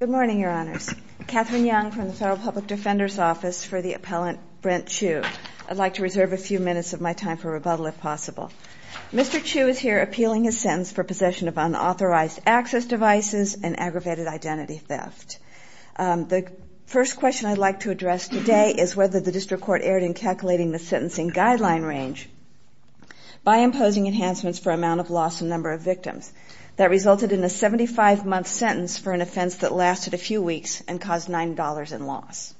Good morning, Your Honors. Katherine Young from the Federal Public Defender's Office for the Appellant, Brent Chew. I'd like to reserve a few minutes of my time for rebuttal if possible. Mr. Chew is here appealing his sentence for possession of unauthorized access devices and aggravated identity theft. The first question I'd like to address today is whether the District Court erred in calculating the sentencing guideline range by imposing enhancements for amount of loss and number of victims. That resulted in a 75-month sentence for an offense that lasted a few weeks and caused $9 in loss.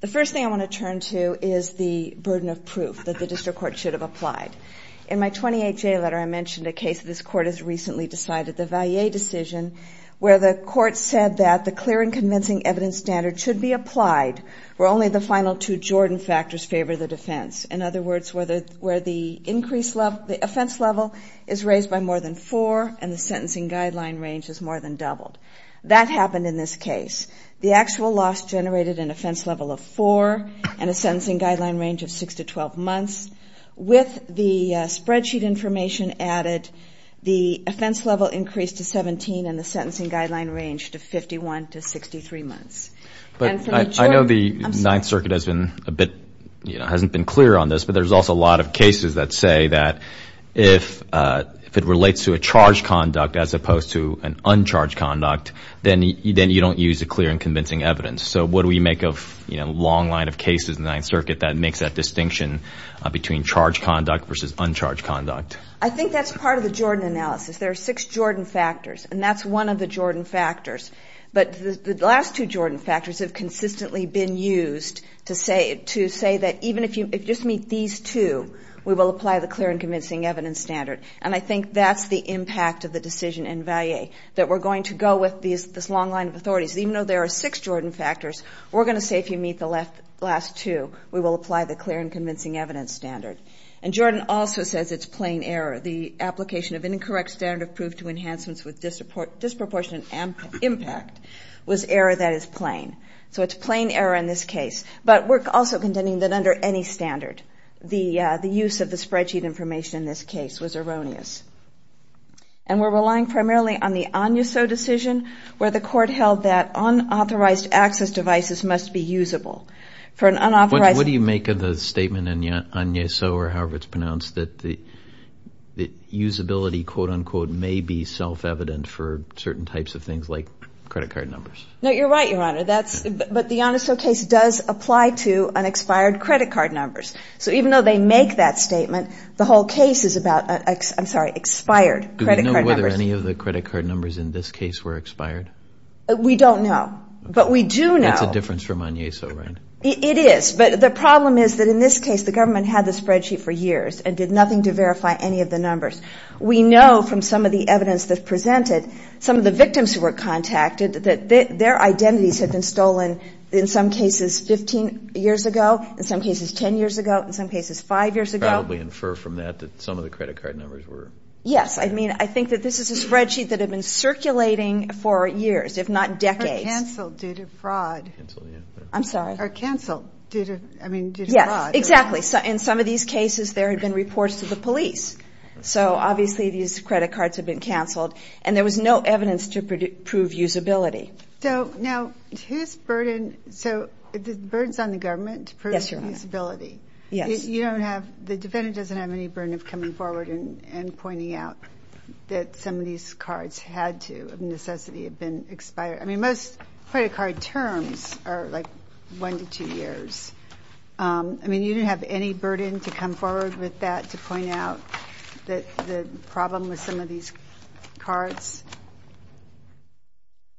The first thing I want to turn to is the burden of proof that the District Court should have applied. In my 28-J letter, I mentioned a case that this Court has recently decided, the Vallee decision, where the Court said that the clear and convincing evidence standard should be applied, where only the final two Jordan factors favor the defense. In other words, where the offense level is raised by more than four and the sentencing guideline range is more than doubled. That happened in this case. The actual loss generated an offense level of four and a sentencing guideline range of 6-12 months. With the spreadsheet information added, the offense level increased to 17 and the sentencing guideline range to 51-63 months. But I know the Ninth Circuit has been a bit, hasn't been clear on this, but there's also a lot of cases that say that if it relates to a charged conduct as opposed to an uncharged conduct, then you don't use a clear and convincing evidence. So what do we make of a long line of cases in the Ninth Circuit that makes that distinction between charged conduct versus uncharged conduct? I think that's part of the Jordan analysis. There are six Jordan factors, and that's one of the Jordan factors. But the last two Jordan factors have consistently been used to say that even if you just meet these two, we will apply the clear and convincing evidence standard. And I think that's the impact of the decision in Vallee, that we're going to go with this long line of authorities. Even though there are six Jordan factors, we're going to say if you meet the last two, we will apply the clear and convincing evidence standard. And Jordan also says it's plain error. The application of incorrect standard of proof to enhancements with disproportionate impact was error that is plain. So it's plain error in this case. But we're also contending that under any standard, the use of the spreadsheet information in this case was erroneous. And we're relying primarily on the Agneso decision, where the court held that unauthorized access devices must be usable. What do you make of the statement in Agneso, or however it's pronounced, that the usability quote-unquote may be self-evident for certain types of things like credit card numbers? No, you're right, Your Honor. But the Agneso case does apply to an expired credit card numbers. So even though they make that statement, the whole case is about expired credit card numbers. Do we know whether any of the credit card numbers in this case were expired? We don't know. But we do know. That's a difference from Agneso, right? It is. But the problem is that in this case, the government had the spreadsheet for years and did nothing to verify any of the numbers. We know from some of the evidence that's presented, some of the victims who were contacted, that their identities had been stolen in some cases 15 years ago, in some cases 10 years ago, in some cases 5 years ago. You could probably infer from that that some of the credit card numbers were... Yes. I mean, I think that this is a spreadsheet that had been circulating for years, if not decades. ...canceled due to fraud. Canceled, yeah. I'm sorry. Or canceled due to, I mean, due to fraud. Yes. Exactly. In some of these cases, there had been reports to the police. So obviously these credit cards had been canceled. And there was no evidence to prove usability. So now, whose burden... So the burden's on the government to prove usability. Yes, Your Honor. You don't have... The defendant doesn't have any burden of coming forward and pointing out that some of these cards had to, of necessity, have been expired. I mean, most credit card terms are, like, one to two years. I mean, you didn't have any burden to come forward with that to point out the problem with some of these cards?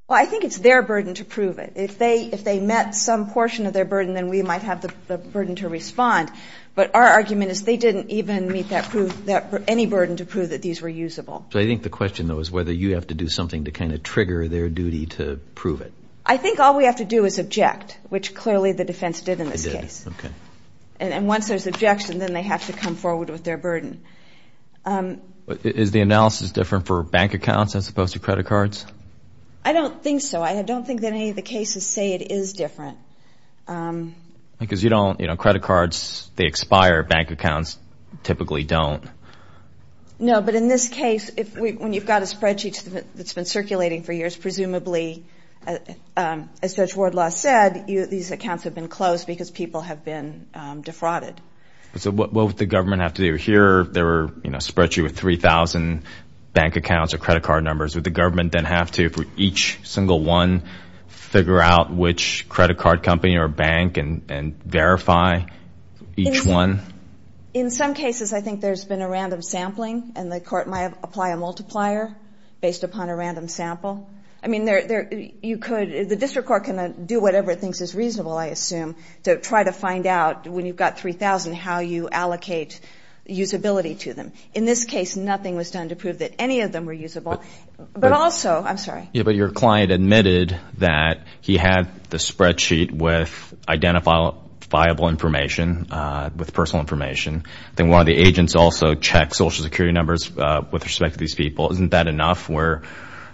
Well, I think it's their burden to prove it. If they met some portion of their burden, then we might have the burden to respond. But our argument is they didn't even meet any burden to prove that these were usable. So I think the question, though, is whether you have to do something to kind of trigger their duty to prove it. I think all we have to do is object, which clearly the defense did in this case. And once there's objection, then they have to come forward with their burden. Is the analysis different for bank accounts as opposed to credit cards? I don't think so. I don't think that any of the cases say it is different. Because you don't, you know, credit cards, they expire. Bank accounts typically don't. No, but in this case, when you've got a spreadsheet that's been circulating for years, presumably, as Judge Wardlaw said, these accounts have been closed because people have been defrauded. So what would the government have to do? Here, there were, you know, a spreadsheet with 3,000 bank accounts or credit card numbers. Would the government then have to, for each single one, figure out which credit card company or bank and verify each one? In some cases, I think there's been a random sampling. And the court might apply a multiplier based upon a random sample. I mean, you could, the district court can do whatever it thinks is reasonable, I assume, to try to find out, when you've got 3,000, how you allocate usability to them. In this case, nothing was done to prove that any of them were usable. But also, I'm sorry. Yeah, but your client admitted that he had the spreadsheet with identifiable information, with personal information. Then one of the agents also checked Social Security numbers with respect to these people. Isn't that enough where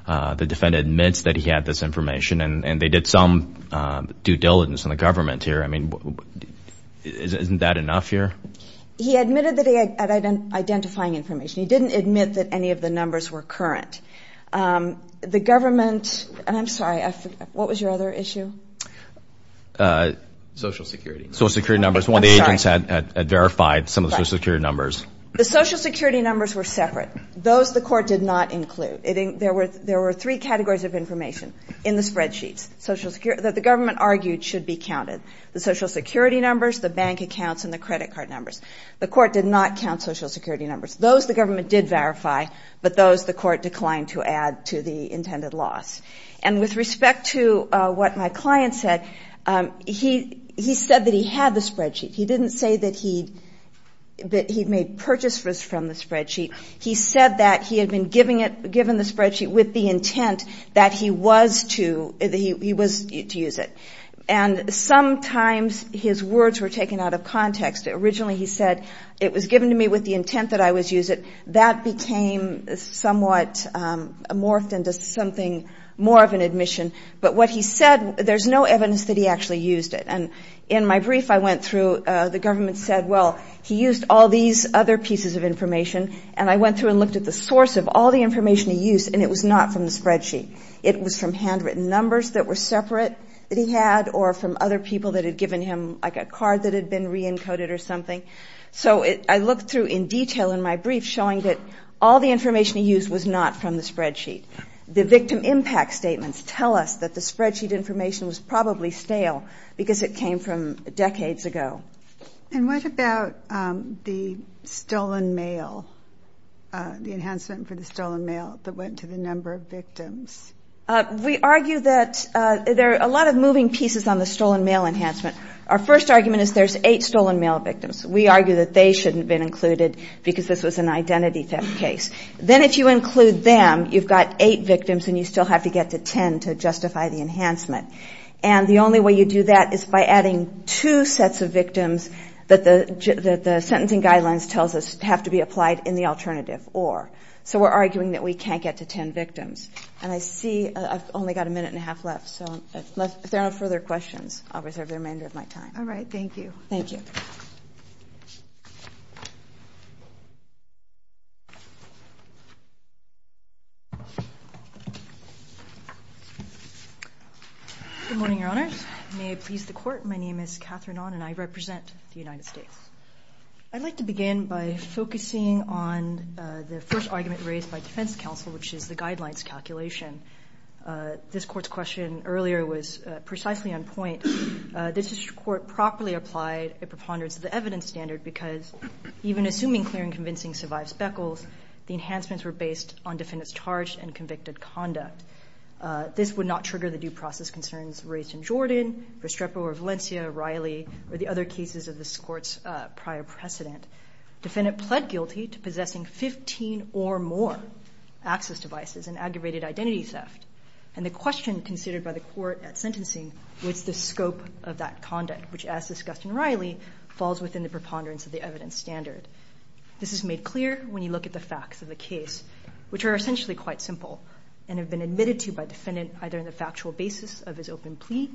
the defendant admits that he had this information and they did some due diligence in the government here? I mean, isn't that enough here? He admitted that he had identifying information. He didn't admit that any of the numbers were current. The government, and I'm sorry, what was your other issue? Social Security. Social Security numbers. One of the agents had verified some of the Social Security numbers. The Social Security numbers were separate. Those the court did not include. There were three categories of information in the spreadsheets that the government argued should be counted. The Social Security numbers, the bank accounts, and the credit card numbers. The court did not count Social Security numbers. Those the government did verify, but those the court declined to add to the intended loss. And with respect to what my client said, he said that he had the spreadsheet. He didn't say that he made purchases from the spreadsheet. He said that he had been given the spreadsheet with the intent that he was to use it. Originally, he said, it was given to me with the intent that I was to use it. That became somewhat morphed into something more of an admission. But what he said, there's no evidence that he actually used it. And in my brief I went through, the government said, well, he used all these other pieces of information. And I went through and looked at the source of all the information he used, and it was not from the spreadsheet. It was from handwritten numbers that were separate that he had, or from other people that had given him like a card that had been re-encoded or something. So I looked through in detail in my brief, showing that all the information he used was not from the spreadsheet. The victim impact statements tell us that the spreadsheet information was probably stale because it came from decades ago. And what about the stolen mail, the enhancement for the stolen mail that went to the number of victims? We argue that there are a lot of moving pieces on the stolen mail enhancement. Our first argument is there's eight stolen mail victims. We argue that they shouldn't have been included because this was an identity theft case. Then if you include them, you've got eight victims and you still have to get to ten to justify the enhancement. And the only way you do that is by adding two sets of victims that the sentencing guidelines tells us have to be applied in the alternative, or. So we're arguing that we can't get to ten victims. And I see I've only got a minute and a half left, so if there are no further questions, I'll reserve the remainder of my time. All right, thank you. Thank you. Good morning, Your Honors. May it please the Court, my name is Catherine Onn and I represent the United States. I'd like to begin by focusing on the first argument raised by defense counsel, which is the guidelines calculation. This Court's question earlier was precisely on point. This Court properly applied a preponderance of the evidence standard because even assuming clear and convincing survived speckles, the enhancements were based on defendants' charged and convicted conduct. This would not trigger the due process concerns raised in Jordan, Restrepo or Valencia, Riley, or the other cases of this Court's prior precedent. Defendant pled guilty to possessing 15 or more access devices and aggravated identity theft. And the question considered by the Court at sentencing was the scope of that conduct, which as discussed in Riley, falls within the preponderance of the evidence standard. This is made clear when you look at the facts of the case, which are essentially quite simple and have been admitted to by a defendant either on the factual basis of his open plea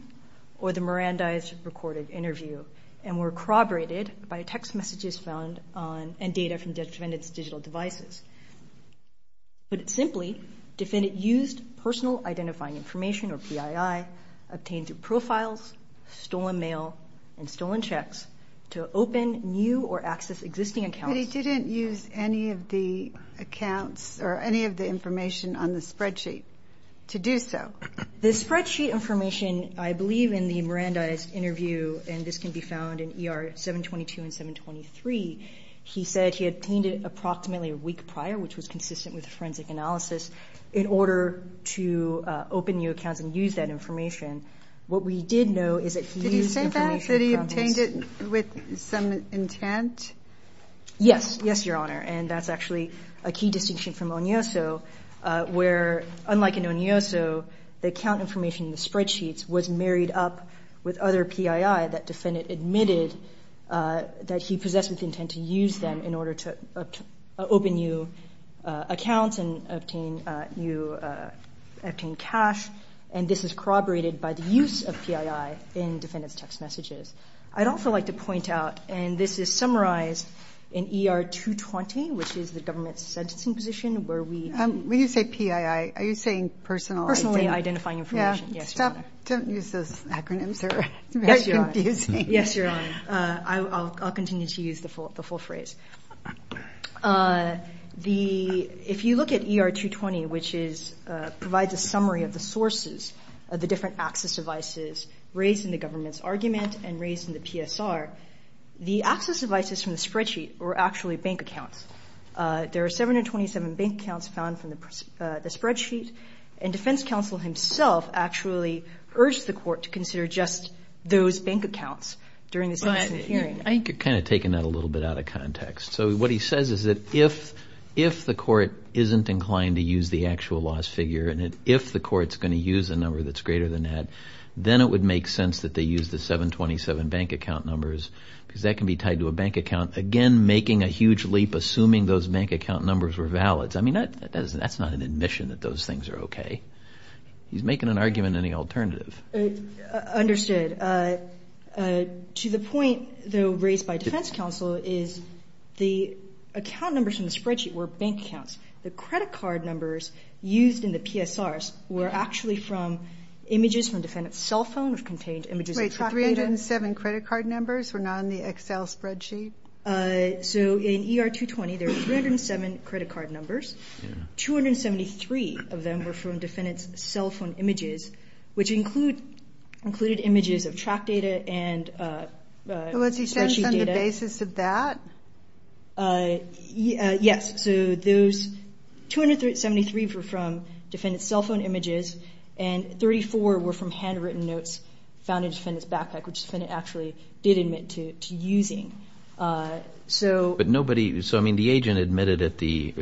or the Mirandized recorded interview and were corroborated by text messages found on and data from defendants' digital devices. Put simply, defendant used personal identifying information, or PII, obtained through profiles, stolen mail, and stolen checks to open new or access existing accounts. But he didn't use any of the accounts or any of the information on the spreadsheet to do so. The spreadsheet information, I believe in the Mirandized interview, and this can be found in ER 722 and 723, he said he obtained it approximately a week prior, which was consistent with forensic analysis, in order to open new accounts and use that information. What we did know is that he used information from his- Did he say that, that he obtained it with some intent? Yes. Yes, Your Honor. And that's actually a key distinction from Onyoso, where unlike in Onyoso, the account information in the spreadsheets was married up with other PII that defendant admitted that he possessed with intent to use them in order to open new accounts and obtain cash. And this is corroborated by the use of PII in defendant's text messages. I'd also like to point out, and this is summarized in ER 220, which is the government's sentencing position, where we- When you say PII, are you saying personal- Personally identifying information. Yeah. Yes, Your Honor. Don't use those acronyms. They're very confusing. Yes, Your Honor. I'll continue to use the full phrase. If you look at ER 220, which provides a summary of the sources of the different access devices raised in the government's argument and raised in the PSR, the access devices from the spreadsheet were actually bank accounts. There are 727 bank accounts found from the spreadsheet, and defense counsel himself actually urged the court to consider just those bank accounts during the sentencing hearing. I think you're kind of taking that a little bit out of context. So what he says is that if the court isn't inclined to use the actual loss figure and if the court's going to use a number that's greater than that, then it would make sense that they use the 727 bank account numbers because that can be tied to a bank account, again, making a huge leap, assuming those bank account numbers were valid. I mean, that's not an admission that those things are okay. He's making an argument in the alternative. Understood. To the point, though, raised by defense counsel, is the account numbers from the spreadsheet were bank accounts. The credit card numbers used in the PSRs were actually from images from defendant's cell phone which contained images of chocolate. Wait, 307 credit card numbers were not in the Excel spreadsheet? So in ER 220, there were 307 credit card numbers. 273 of them were from defendant's cell phone images, which included images of track data and spreadsheet data. Was he saying it's on the basis of that? Yes. So those 273 were from defendant's cell phone images and 34 were from handwritten notes found in defendant's backpack, which the defendant actually did admit to using. But nobody, so, I mean, the agent admitted at the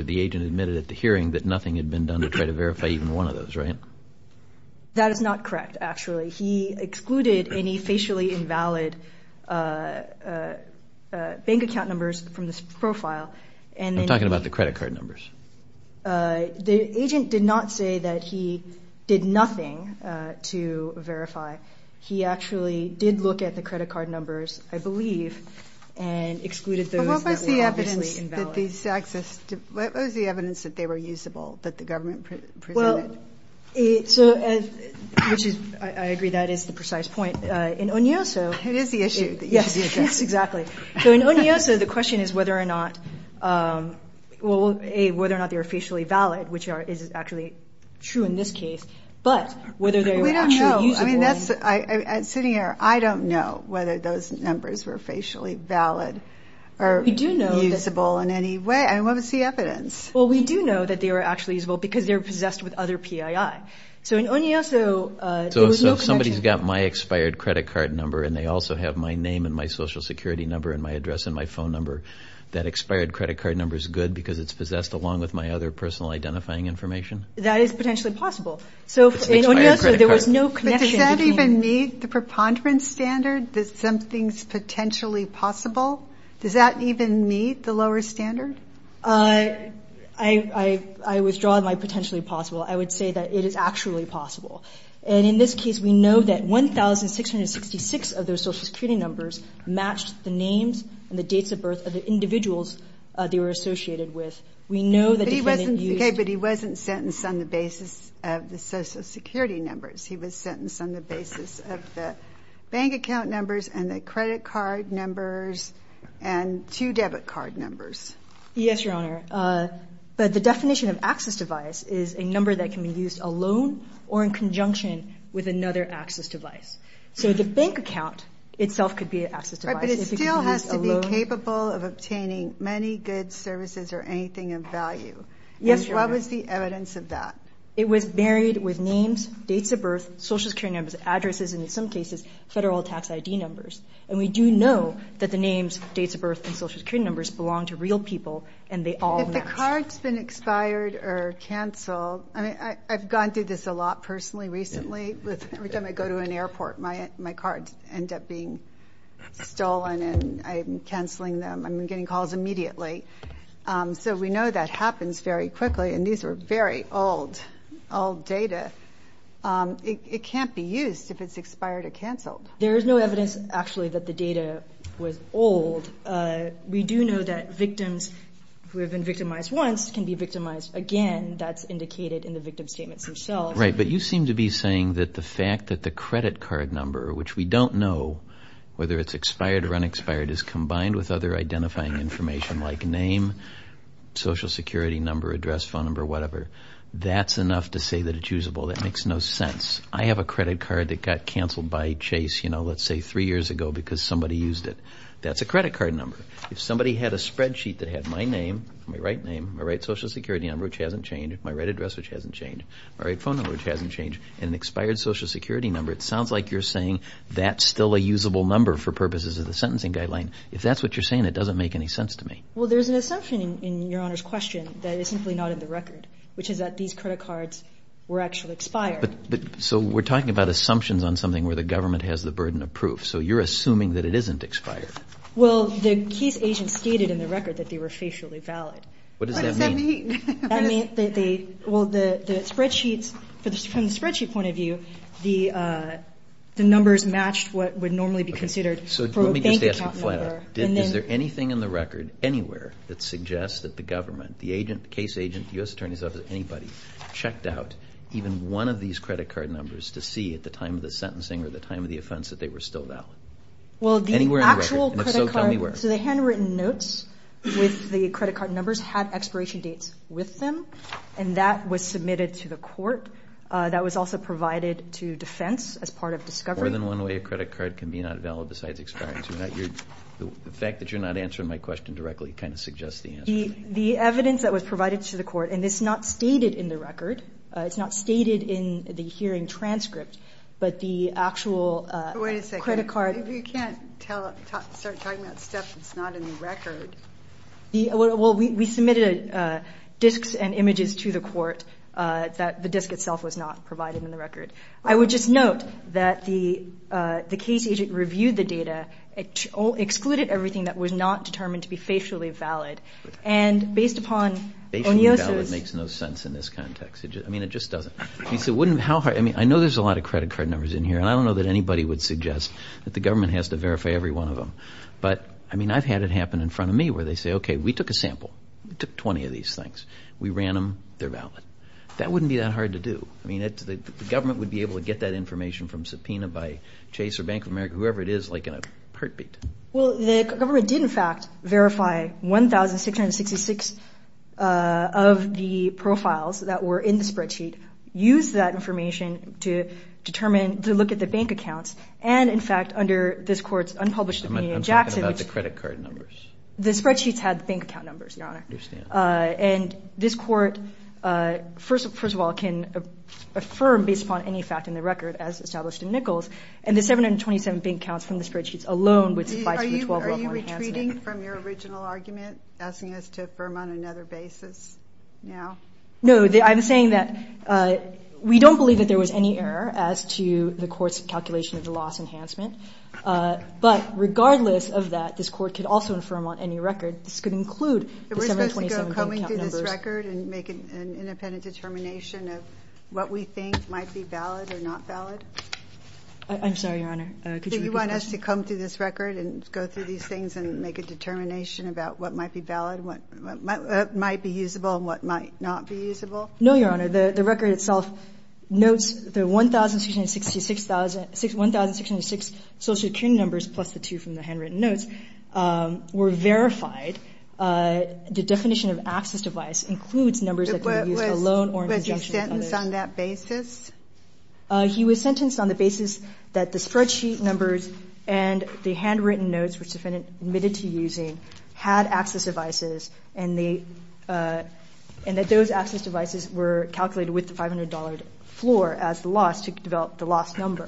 hearing that nothing had been done to try to verify even one of those, right? That is not correct, actually. He excluded any facially invalid bank account numbers from this profile. I'm talking about the credit card numbers. The agent did not say that he did nothing to verify. He actually did look at the credit card numbers, I believe, and excluded those that were obviously invalid. But what was the evidence that these access, what was the evidence that they were usable that the government presented? Well, so, which is, I agree that is the precise point. In Onyoso. It is the issue. Yes, yes, exactly. So in Onyoso, the question is whether or not, well, A, whether or not they were facially valid, which is actually true in this case, but whether they were actually usable. I mean, sitting here, I don't know whether those numbers were facially valid or usable in any way. I mean, what was the evidence? Well, we do know that they were actually usable because they were possessed with other PII. So in Onyoso, there was no connection. So if somebody's got my expired credit card number and they also have my name and my Social Security number and my address and my phone number, that expired credit card number is good because it's possessed along with my other personal identifying information? That is potentially possible. So in Onyoso, there was no connection. But does that even meet the preponderance standard that something's potentially possible? Does that even meet the lower standard? I withdraw my potentially possible. I would say that it is actually possible. And in this case, we know that 1,666 of those Social Security numbers matched the names and the dates of birth of the individuals they were associated with. We know that the defendant used. Okay, but he wasn't sentenced on the basis of the Social Security numbers. He was sentenced on the basis of the bank account numbers and the credit card numbers and two debit card numbers. Yes, Your Honor. But the definition of access device is a number that can be used alone or in conjunction with another access device. So the bank account itself could be an access device. But it still has to be capable of obtaining money, goods, services, or anything of value. Yes, Your Honor. And what was the evidence of that? It was buried with names, dates of birth, Social Security numbers, addresses, and in some cases, federal tax ID numbers. And we do know that the names, dates of birth, and Social Security numbers belong to real people, and they all matched. If the card's been expired or canceled – I mean, I've gone through this a lot personally recently. Every time I go to an airport, my cards end up being stolen, and I'm canceling them. I'm getting calls immediately. So we know that happens very quickly, and these are very old, old data. It can't be used if it's expired or canceled. There is no evidence, actually, that the data was old. We do know that victims who have been victimized once can be victimized again. That's indicated in the victim statements themselves. Right, but you seem to be saying that the fact that the credit card number, which we don't know whether it's expired or unexpired, is combined with other identifying information like name, Social Security number, address, phone number, whatever, that's enough to say that it's usable. That makes no sense. I have a credit card that got canceled by Chase, you know, let's say three years ago because somebody used it. That's a credit card number. If somebody had a spreadsheet that had my name, my right name, my right Social Security number, which hasn't changed, my right address, which hasn't changed, my right phone number, which hasn't changed, and an expired Social Security number, it sounds like you're saying that's still a usable number for purposes of the sentencing guideline. If that's what you're saying, it doesn't make any sense to me. Well, there's an assumption in Your Honor's question that is simply not in the record, which is that these credit cards were actually expired. So we're talking about assumptions on something where the government has the burden of proof, so you're assuming that it isn't expired. Well, the case agent stated in the record that they were facially valid. What does that mean? What does that mean? That means that they, well, the spreadsheets, from the spreadsheet point of view, the numbers matched what would normally be considered for a bank account number. Okay, so let me just ask it flat out. Is there anything in the record anywhere that suggests that the government, the agent, the case agent, the U.S. Attorney's Office, anybody, checked out even one of these credit card numbers to see at the time of the sentencing or the time of the offense that they were still valid? Well, the actual credit card. Anywhere in the record? And if so, tell me where. had expiration dates with them, and that was submitted to the court. That was also provided to defense as part of discovery. More than one way a credit card can be not valid besides expiration. The fact that you're not answering my question directly kind of suggests the answer. The evidence that was provided to the court, and it's not stated in the record, it's not stated in the hearing transcript, but the actual credit card. Wait a second. You can't start talking about stuff that's not in the record. Well, we submitted disks and images to the court that the disk itself was not provided in the record. I would just note that the case agent reviewed the data, excluded everything that was not determined to be facially valid, and based upon Onyosa's... Facially valid makes no sense in this context. I mean, it just doesn't. I mean, I know there's a lot of credit card numbers in here, and I don't know that anybody would suggest that the government has to verify every one of them, but I mean, I've had it happen in front of me where they say, okay, we took a sample. We took 20 of these things. We ran them. They're valid. That wouldn't be that hard to do. I mean, the government would be able to get that information from subpoena by Chase or Bank of America, whoever it is, like in a heartbeat. Well, the government did, in fact, verify 1,666 of the profiles that were in the spreadsheet, used that information to determine, to look at the bank accounts, and, in fact, under this court's unpublished opinion in Jackson... I'm talking about the credit card numbers. The spreadsheets had bank account numbers, Your Honor. I understand. And this court, first of all, can affirm, based upon any fact in the record, as established in Nichols, and the 727 bank accounts from the spreadsheets alone would suffice for the 12-level enhancement. Are you retreating from your original argument, asking us to affirm on another basis now? No. I'm saying that we don't believe that there was any error as to the court's calculation of the loss enhancement, but regardless of that, this court could also affirm on any record. This could include the 727 bank account numbers. Are we supposed to go coming through this record and make an independent determination of what we think might be valid or not valid? I'm sorry, Your Honor. Could you repeat that? Do you want us to come through this record and go through these things and make a determination about what might be valid, what might be usable, and what might not be usable? No, Your Honor. The record itself notes the 1,666 social security numbers plus the 2 from the handwritten notes were verified. The definition of access device includes numbers that can be used alone or in conjunction with others. Was he sentenced on that basis? He was sentenced on the basis that the spreadsheet numbers and the handwritten notes which the defendant admitted to using had access devices and that those access devices were calculated with the $500 floor as the loss to develop the loss number.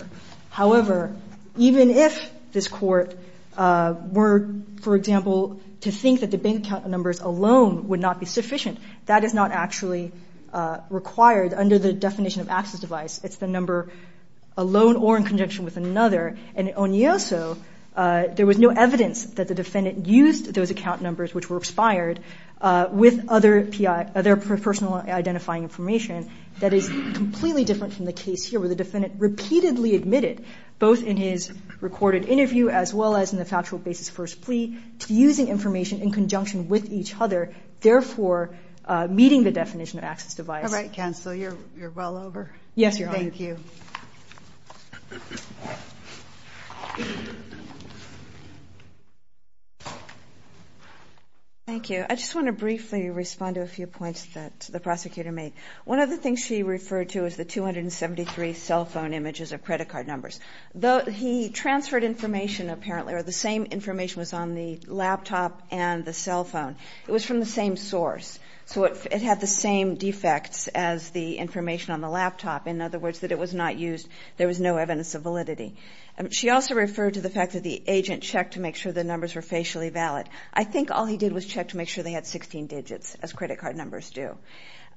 However, even if this court were, for example, to think that the bank account numbers alone would not be sufficient, that is not actually required under the definition of access device. It's the number alone or in conjunction with another. In Onyoso, there was no evidence that the defendant used those account numbers which were expired with other personal identifying information. That is completely different from the case here where the defendant repeatedly admitted both in his recorded interview as well as in the factual basis first plea to using information in conjunction with each other, therefore meeting the definition of access device. All right, counsel, you're well over. Yes, Your Honor. Thank you. Thank you. I just want to briefly respond to a few points that the prosecutor made. One of the things she referred to is the 273 cell phone images of credit card numbers. Though he transferred information apparently or the same information was on the laptop and the cell phone, it was from the same source. So it had the same defects as the information on the laptop. In other words, that it was not used. There was no evidence of validity. She also referred to the fact that the agent checked to make sure the numbers were facially valid. I think all he did was check to make sure they had 16 digits as credit card numbers do.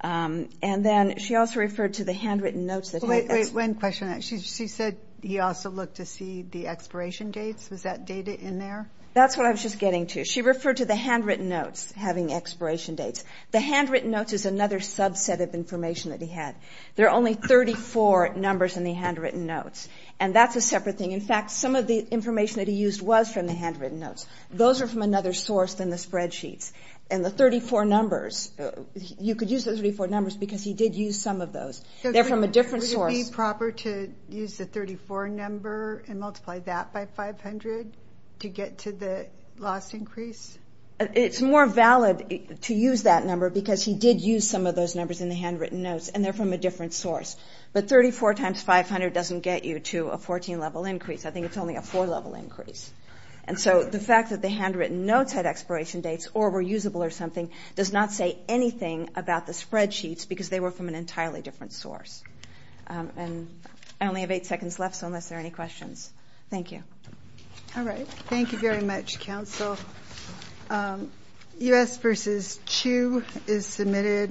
And then she also referred to the handwritten notes. Wait, one question. She said he also looked to see the expiration dates. Was that data in there? That's what I was just getting to. She referred to the handwritten notes having expiration dates. The handwritten notes is another subset of information that he had. There are only 34 numbers in the handwritten notes, and that's a separate thing. In fact, some of the information that he used was from the handwritten notes. Those are from another source than the spreadsheets. And the 34 numbers, you could use those 34 numbers because he did use some of those. They're from a different source. Would it be proper to use the 34 number and multiply that by 500 to get to the loss increase? It's more valid to use that number because he did use some of those numbers in the handwritten notes, and they're from a different source. But 34 times 500 doesn't get you to a 14-level increase. I think it's only a 4-level increase. And so the fact that the handwritten notes had expiration dates or were usable or something does not say anything about the spreadsheets because they were from an entirely different source. I only have eight seconds left, so unless there are any questions. Thank you. All right. Thank you very much, counsel. U.S. v. Chu is submitted.